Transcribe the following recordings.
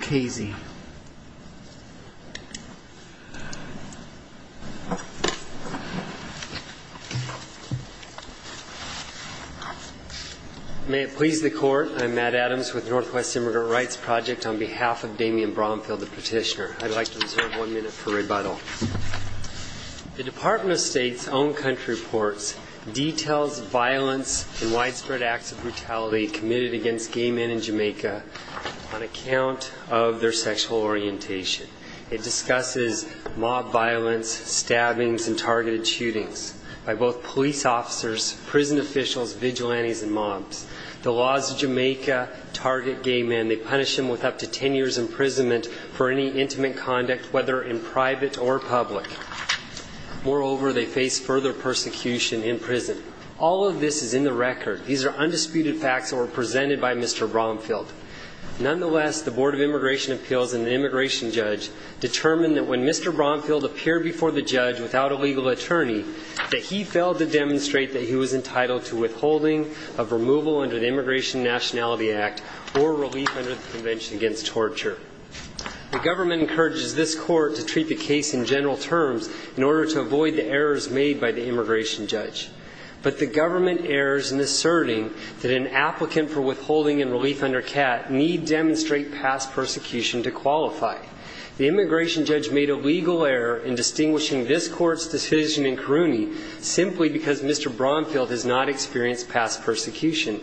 May it please the Court, I am Matt Adams with Northwest Immigrant Rights Project on behalf of Damian Bromfield, the petitioner. I'd like to reserve one minute for rebuttal. The Department of State's own country reports details violence and widespread acts of brutality committed against gay men in Jamaica on account of their sexual orientation. It discusses mob violence, stabbings and targeted shootings by both police officers, prison officials, vigilantes and mobs. The laws of Jamaica target gay men. They punish them with up to ten years imprisonment for any intimate conduct, whether in private or public. Moreover, they face further persecution in prison. All of this is in the record. These are undisputed facts that were presented by Mr. Bromfield. Nonetheless, the Board of Immigration Appeals and the immigration judge determined that when Mr. Bromfield appeared before the judge without a legal attorney that he failed to demonstrate that he was entitled to withholding of removal under the Immigration Nationality Act or relief under the Convention Against Torture. The government encourages this court to treat the case in general terms in order to avoid the errors made by the immigration judge. But the government errs in asserting that an applicant for withholding and relief under CAT need demonstrate past persecution to qualify. The immigration judge made a legal error in distinguishing this court's decision in Caruni simply because Mr. Bromfield has not experienced past persecution.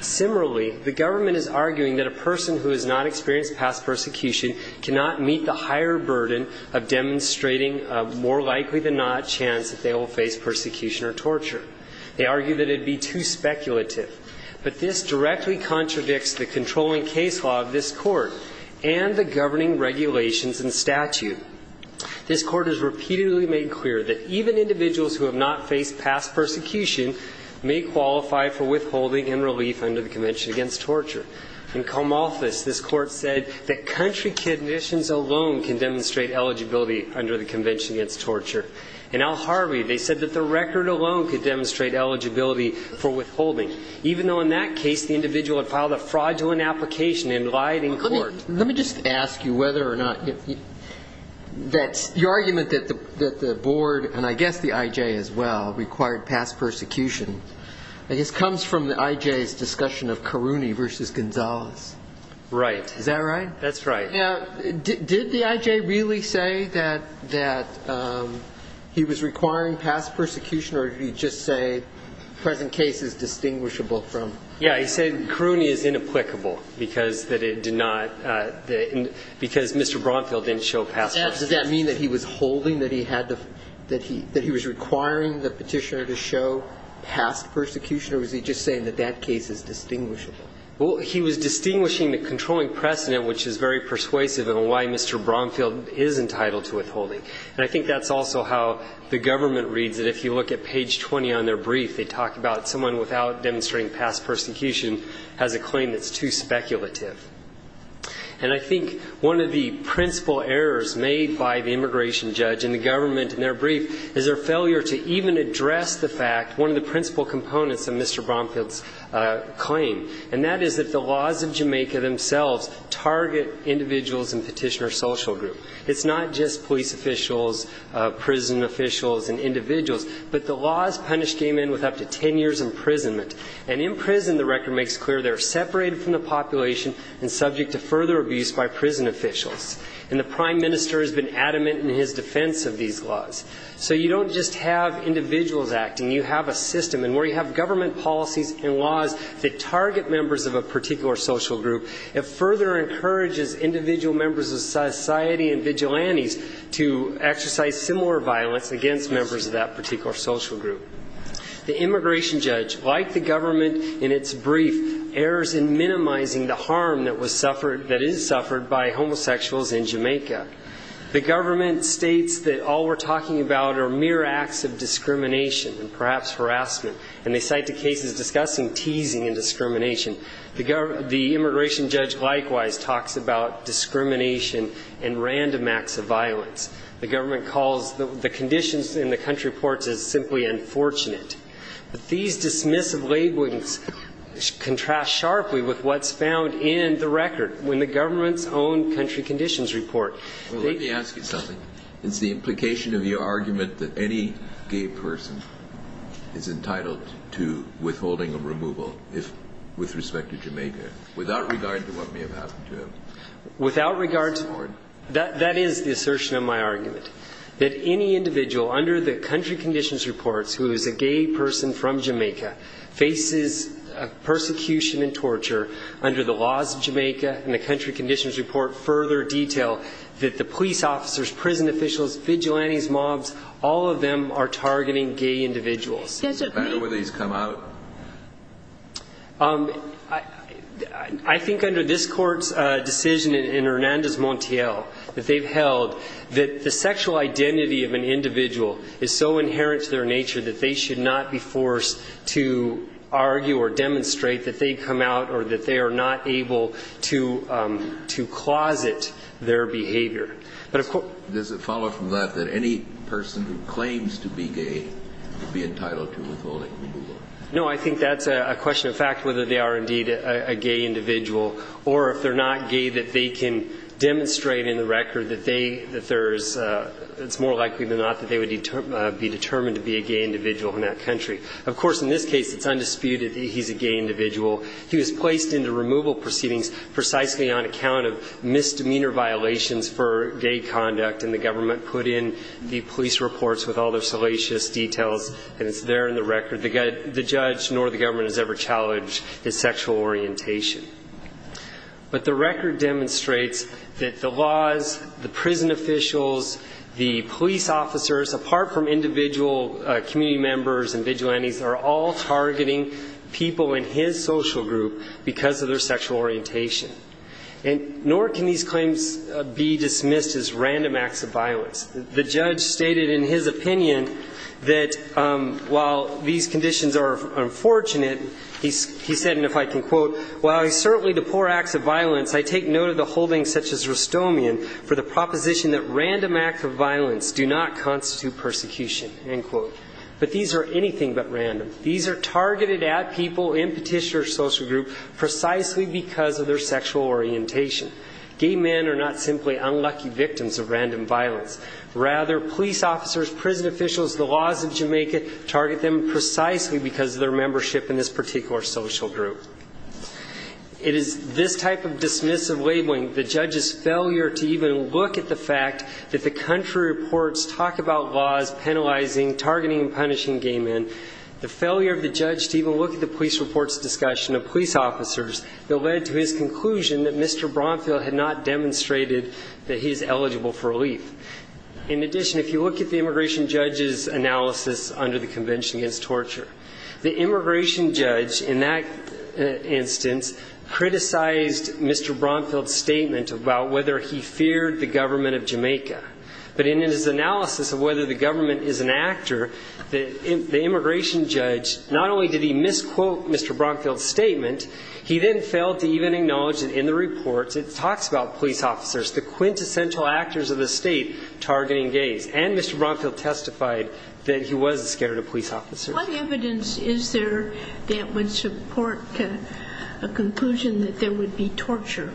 Similarly, the government is arguing that a person who has not experienced past persecution cannot meet the higher burden of demonstrating a more likely-than-not chance that they will face persecution or torture. They argue that it would be too speculative. But this directly contradicts the controlling case law of this court and the governing regulations and statute. This court has repeatedly made clear that even individuals who have not faced past persecution may qualify for withholding and relief under the Convention Against Torture. In Comalthus, this court said that country conditions alone can demonstrate eligibility under the Convention Against Torture. In Al Harvey, they said that the record alone could demonstrate eligibility for withholding, even though in that case the individual had filed a fraudulent application and lied in court. Let me just ask you whether or not that's your argument that the board, and I guess the IJ as well, required past persecution. I guess it comes from the IJ's discussion of Caruni versus Gonzalez. Is that right? That's right. Now, did the IJ really say that he was requiring past persecution, or did he just say the present case is distinguishable from Caruni? Yeah, he said Caruni is inapplicable because Mr. Bromfield didn't show past persecution. Does that mean that he was holding that he was requiring the petitioner to show past persecution, or was he just saying that that case is distinguishable? He was distinguishing the controlling precedent, which is very persuasive in why Mr. Bromfield is entitled to withholding. And I think that's also how the government reads it. If you look at page 20 on their brief, they talk about someone without demonstrating past persecution has a claim that's too speculative. And I think one of the principal errors made by the immigration judge and the government in their brief is their failure to even address the fact, one of the principal components of Mr. Bromfield's claim, and that is that the laws of Jamaica themselves target individuals in petitioner social group. It's not just police officials, prison officials, and individuals, but the laws punish gay men with up to 10 years imprisonment. And in prison, the record makes clear they're separated from the population and subject to further abuse by prison officials. And the prime minister has been adamant in his defense of these laws. So you don't just have individuals acting. You have a system. And where you have government policies and laws that target members of a particular social group, it further encourages individual members of society and vigilantes to exercise similar violence against members of that particular social group. The immigration judge, like the government in its brief, errors in minimizing the harm that is suffered by homosexuals in Jamaica. The government states that all we're talking about are mere acts of discrimination and perhaps harassment, and they cite the cases discussing teasing and discrimination. The immigration judge likewise talks about discrimination and random acts of violence. The government calls the conditions in the country reports as simply unfortunate. But these dismissive labelings contrast sharply with what's found in the record when the government's own country conditions report. Let me ask you something. Is the implication of your argument that any gay person is entitled to withholding a removal with respect to Jamaica, without regard to what may have happened to him? Without regard to... That is the assertion of my argument. That any individual under the country conditions reports who is a gay person from Jamaica faces persecution and that the police officers, prison officials, vigilantes, mobs, all of them are targeting gay individuals. Does it matter whether he's come out? I think under this court's decision in Hernandez Montiel that they've held that the sexual identity of an individual is so inherent to their nature that they should not be forced to argue or demonstrate that they've come out or that they are not able to closet their behavior. But of course... Does it follow from that that any person who claims to be gay would be entitled to withholding removal? No, I think that's a question of fact whether they are indeed a gay individual or if they're not gay that they can demonstrate in the record that they, that there's, it's more likely than not that they would be determined to be a gay individual in that country. Of course in this case it's undisputed that he's a gay individual. He was placed into removal proceedings precisely on account of misdemeanor violations for gay conduct and the government put in the police reports with all their salacious details and it's there in the record the judge nor the government has ever challenged his sexual orientation. But the record demonstrates that the laws, the prison officials, the police officers apart from individual community members and vigilantes are all targeting people in his social group because of their sexual orientation. And nor can these claims be dismissed as random acts of violence. The judge stated in his opinion that while these conditions are unfortunate, he said and if I can quote, while I certainly deplore acts of violence, I take note of the holdings such as Rustomian for the proposition that random acts of violence do not constitute persecution, end quote. But these are anything but random. These are targeted at people in Petitioner's social group precisely because of their sexual orientation. Gay men are not simply unlucky victims of random violence. Rather, police officers, prison officials, the laws of Jamaica target them precisely because of their membership in this particular social group. It is this type of dismissive labeling, the judge's failure to even look at the fact that the country reports talk about laws penalizing, targeting and punishing gay men, the failure of the judge to even look at the police reports discussion of police officers that led to his conclusion that Mr. Bromfield had not demonstrated that he is eligible for relief. In addition, if you look at the immigration judge's analysis under the Convention Against Torture, the immigration judge in that instance criticized Mr. Bromfield's statement about whether he feared the government of Jamaica. But in his analysis of whether the government is an actor, the immigration judge not only did he misquote Mr. Bromfield's statement, he then failed to even acknowledge that in the reports it talks about police officers, the quintessential actors of the state targeting gays. And Mr. Bromfield testified that he was scared of police officers. What evidence is there that would support a conclusion that there would be torture?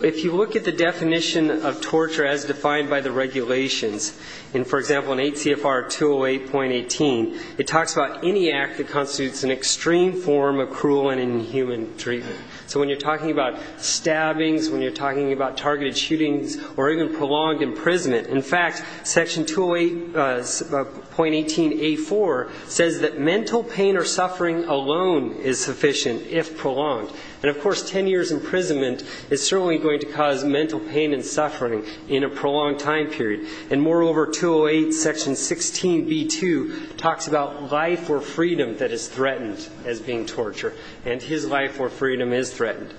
If you look at the definition of torture as defined by the regulations, in for example in 8 CFR 208.18, it talks about any act that constitutes an extreme form of cruel and inhuman treatment. So when you're talking about stabbings, when you're talking about targeted shootings or even prolonged imprisonment, in fact, section 208.18A4 says that mental pain or suffering alone is sufficient if prolonged. And of course, 10 years' imprisonment is certainly going to cause mental pain and suffering in a prolonged time period. And moreover, 208.16B2 talks about life or freedom that is threatened as being torture. And his life or freedom is threatened.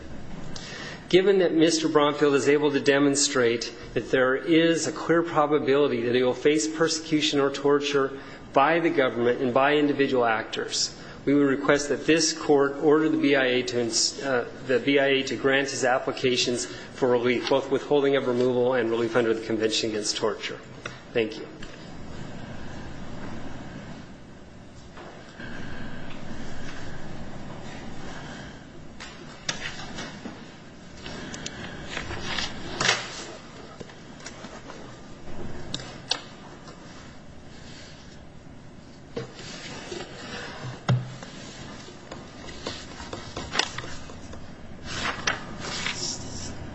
Given that Mr. Bromfield is able to demonstrate that there is a clear probability that he is guilty, we request that this court order the BIA to grant his applications for relief, both withholding of removal and relief under the Convention Against Torture. Thank you. MR. STONE.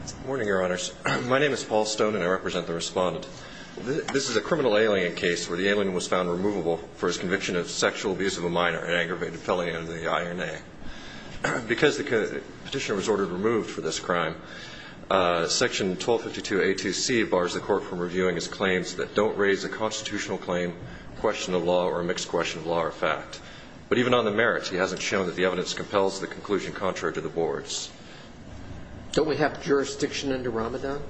Good morning, Your Honors. My name is Paul Stone, and I represent the Respondent. This is a criminal alien case where the alien was found removable for his conviction of sexual abuse of a minor and aggravated felony under the INA. Because the petitioner was ordered removed for this crime, section 1252A2C bars the Court from reviewing his claims that don't raise a constitutional claim, question of law, or a mixed question of law or fact. But even on the merits, he hasn't shown that the evidence compels the conclusion contrary to the boards. MR. CHAUNCEY. Don't we have jurisdiction under Ramadan? MR.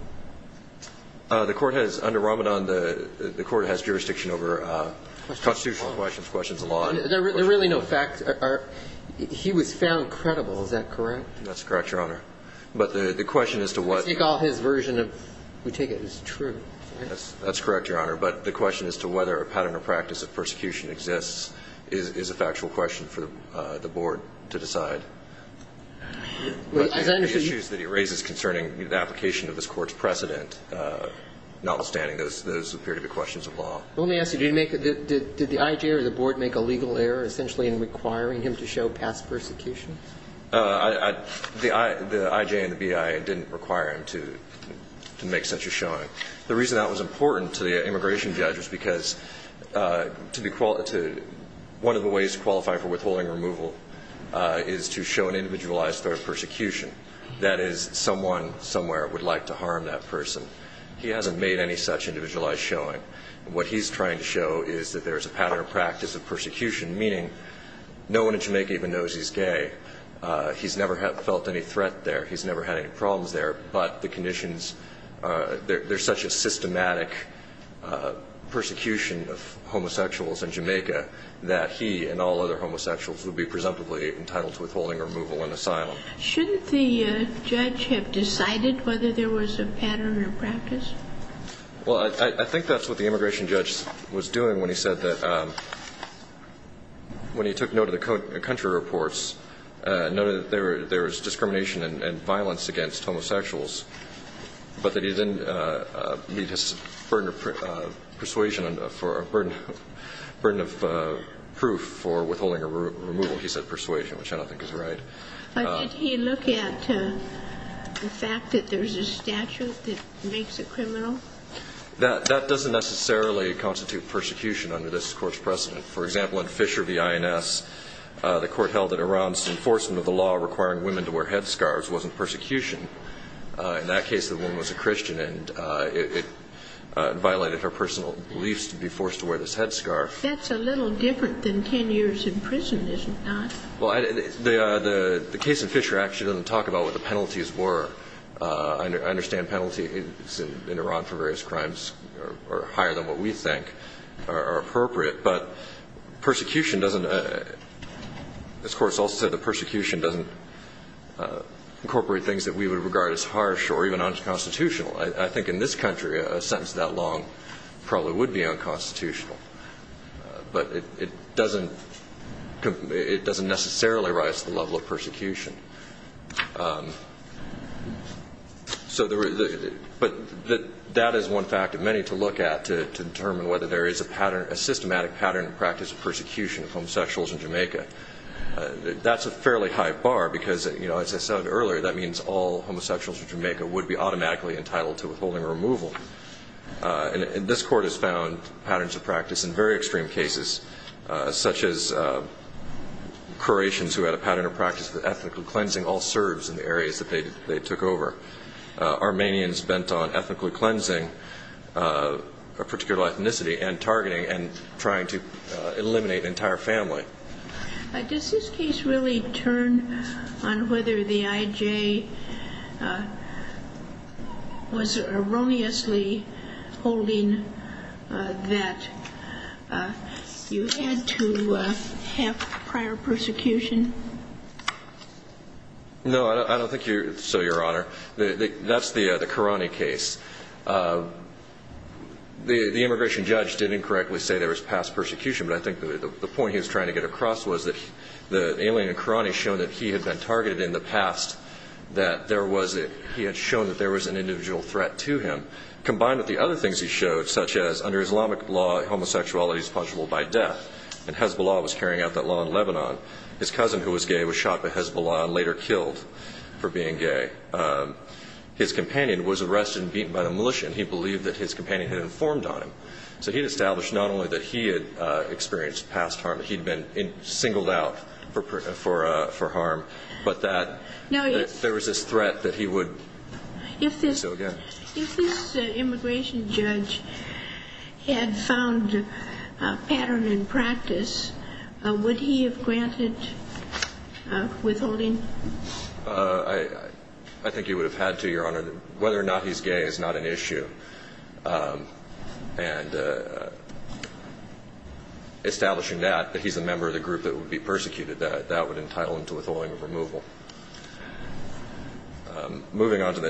STONE. The Court has, under Ramadan, the Court has jurisdiction over constitutional questions, questions of law. MR. CHAUNCEY. There are really no facts. He was found credible. Is that correct? MR. STONE. That's correct, Your Honor. But the question as to what MR. CHAUNCEY. I think all his version of who take it is true. MR. STONE. That's correct, Your Honor. But the question as to whether a pattern of practice of persecution exists is a factual question for the Board to decide. MR. CHAUNCEY. As I understand you MR. STONE. But the issues that he raises concerning the application of this Court's precedent, notwithstanding those appear to be questions of law. MR. CHAUNCEY. Let me ask you, did the IJ or the Board make a legal error essentially in requiring him to show past persecution? MR. STONE. The IJ and the BI didn't require him to make such a showing. The reason that was important to the immigration judge was because one of the ways to qualify for withholding removal is to show an individualized threat of persecution. That is, someone somewhere would like to harm that person. He hasn't made any such individualized showing. And what he's trying to show is that there's a pattern of practice of persecution, meaning no one in Jamaica even knows he's gay. He's never felt any threat there. He's never had any problems there. But the conditions, there's such a systematic persecution of homosexuals in Jamaica that he and all other homosexuals would be presumptively entitled to withholding removal and asylum. MR. CHAUNCEY. Shouldn't the judge have decided whether there was a pattern of practice? MR. STONE. Well, I think that's what the immigration judge was doing when he said that, when he said that, there was discrimination and violence against homosexuals, but that he didn't need his burden of persuasion or burden of proof for withholding or removal. He said persuasion, which I don't think is right. MS. MOSS. But did he look at the fact that there's a statute that makes it criminal? MR. STONE. That doesn't necessarily constitute persecution under this Court's precedent. For example, in Fisher v. INS, the Court held that Iran's enforcement of the law requiring women to wear headscarves wasn't persecution. In that case, the woman was a Christian, and it violated her personal beliefs to be forced to wear this headscarf. MS. MOSS. That's a little different than 10 years in prison, isn't it? MR. STONE. Well, the case in Fisher actually doesn't talk about what the penalties were. I understand penalties in Iran for various crimes are higher than what we think are appropriate, but persecution doesn't – this Court has also said that persecution doesn't incorporate things that we would regard as harsh or even unconstitutional. I think in this country, a sentence that long probably would be unconstitutional, but it doesn't necessarily rise to the level of persecution. But that is one fact that we have many to look at to determine whether there is a systematic pattern and practice of persecution of homosexuals in Jamaica. That's a fairly high bar, because as I said earlier, that means all homosexuals in Jamaica would be automatically entitled to withholding or removal. And this Court has found patterns of practice in very extreme cases, such as Croatians who had a pattern of practice of ethnic cleansing all serves in the areas that they took over. Armenians bent on ethnically cleansing a particular ethnicity and targeting and trying to eliminate an entire family. Q Does this case really turn on whether the I.J. was erroneously holding that you had to have prior persecution? No, I don't think so, Your Honor. That's the Karani case. The immigration judge did incorrectly say there was past persecution, but I think the point he was trying to get across was that the alien in Karani showed that he had been targeted in the past, that there was – he had shown that there was an individual threat to him. Combined with the other things he showed, such as under Islamic law, homosexuality is punishable by was shot by Hezbollah and later killed for being gay. His companion was arrested and beaten by the militia, and he believed that his companion had informed on him. So he established not only that he had experienced past harm, that he had been singled out for harm, but that there was this threat that he would do it again. Q If this immigration judge had found a pattern in practice, would he have granted withholding? I think he would have had to, Your Honor. Whether or not he's gay is not an issue. And establishing that, that he's a member of the group that would be persecuted, that would entitle him to withholding of removal. Moving on to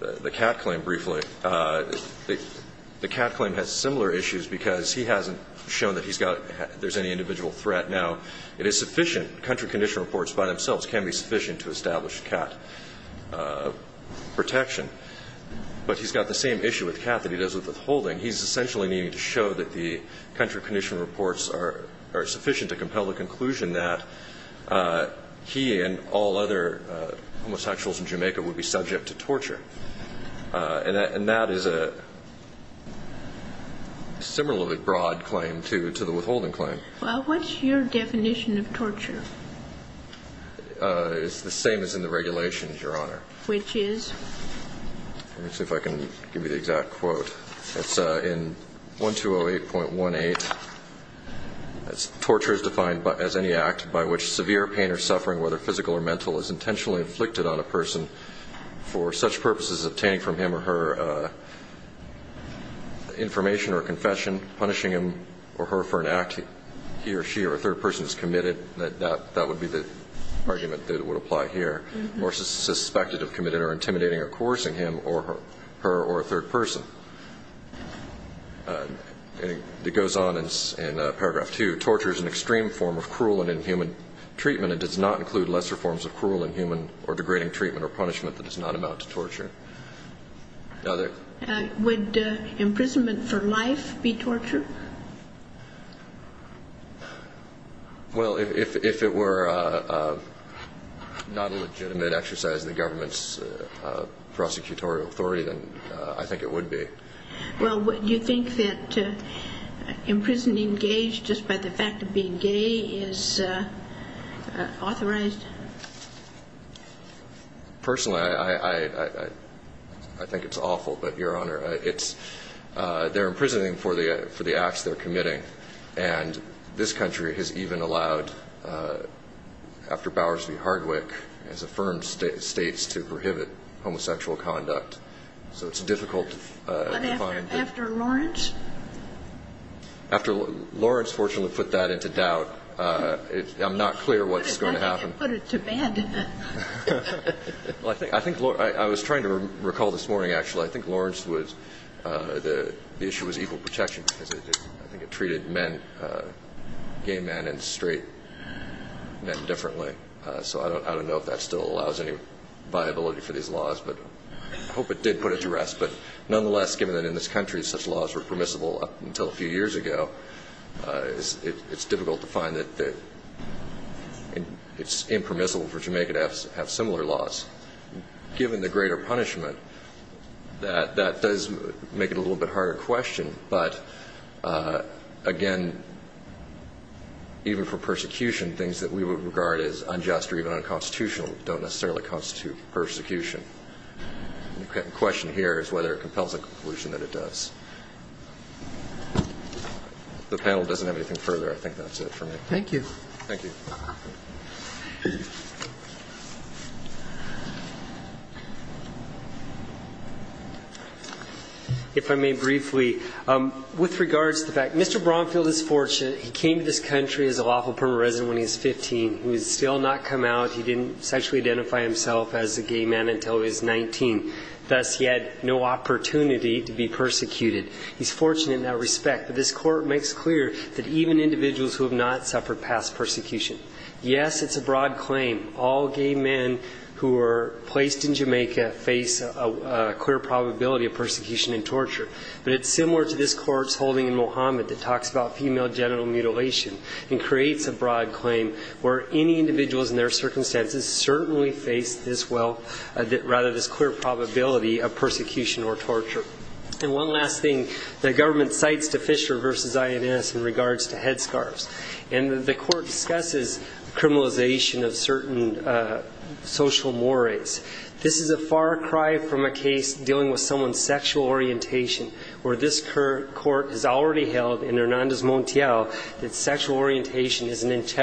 the Kat claim briefly, the Kat claim has similar issues because he hasn't shown that he's got – there's any individual threat. Now, it is sufficient – country condition reports by themselves can be sufficient to establish Kat protection. But he's got the same issue with Kat that he does with withholding. He's essentially needing to show that the country condition reports are sufficient to compel the conclusion that he and all other homosexuals in Jamaica would be subject to torture. And that is a similarly broad claim to the withholding claim. Q Well, what's your definition of torture? It's the same as in the regulations, Your Honor. Q Which is? Let me see if I can give you the exact quote. It's in 1208.18. Torture is defined as any act by which severe pain or suffering, whether physical or mental, for the purposes of obtaining from him or her information or confession, punishing him or her for an act he or she or a third person has committed. That would be the argument that would apply here. Or suspected of committing or intimidating or coercing him or her or a third person. It goes on in paragraph 2. Torture is an extreme form of cruel and inhuman treatment and does not include lesser forms of cruel and inhuman or degrading treatment or punishment that is not amount to torture. Q Would imprisonment for life be torture? Well, if it were not a legitimate exercise of the government's prosecutorial authority, then I think it would be. Q Well, would you think that imprisoning gays just by the fact of being gay is authorized? Personally, I think it's awful. But, Your Honor, they're imprisoning for the acts they're committing. And this country has even allowed, after Bowers v. Hardwick, as affirmed, states to prohibit homosexual conduct. So it's difficult to find. Q But after Lawrence? After Lawrence, fortunately, put that into doubt. I'm not clear what's going to happen. I think it put it to bed. I was trying to recall this morning, actually. I think Lawrence was the issue was equal protection because I think it treated men, gay men and straight men, differently. So I don't know if that still allows any viability for these laws. But I hope it did put it to rest. But, nonetheless, given that in this country such laws were permissible up until a few years ago, it's difficult to find that it's impermissible for Jamaica to have similar laws. Given the greater punishment, that does make it a little bit harder question. But, again, even for persecution, things that we would regard as unjust or even unconstitutional don't necessarily constitute persecution. The question here is whether it compels the conclusion that it does. The panel doesn't have anything further. I think that's it for me. Thank you. Thank you. If I may briefly. With regards to the fact Mr. Bromfield is fortunate. He came to this country as a lawful permanent resident when he was 15. He has still not come out. He didn't sexually identify himself as a gay man until he was 19. Thus, he had no opportunity to be persecuted. He's fortunate in that respect. But this court makes clear that even individuals who have not suffered past persecution. Yes, it's a broad claim. All gay men who are placed in Jamaica face a clear probability of persecution and torture. But it's similar to this court's holding in Mohammed that talks about female genital mutilation and creates a broad claim where any individuals in their circumstances certainly face this well rather this clear probability of persecution or torture. And one last thing the government cites to Fisher v. INS in regards to head scarves. And the court discusses criminalization of certain social mores. This is a far cry from a case dealing with someone's sexual orientation where this court has already held in Hernandez Montiel that sexual orientation is an issue. Thank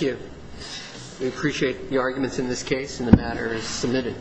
you. We appreciate the arguments in this case and the matter is submitted.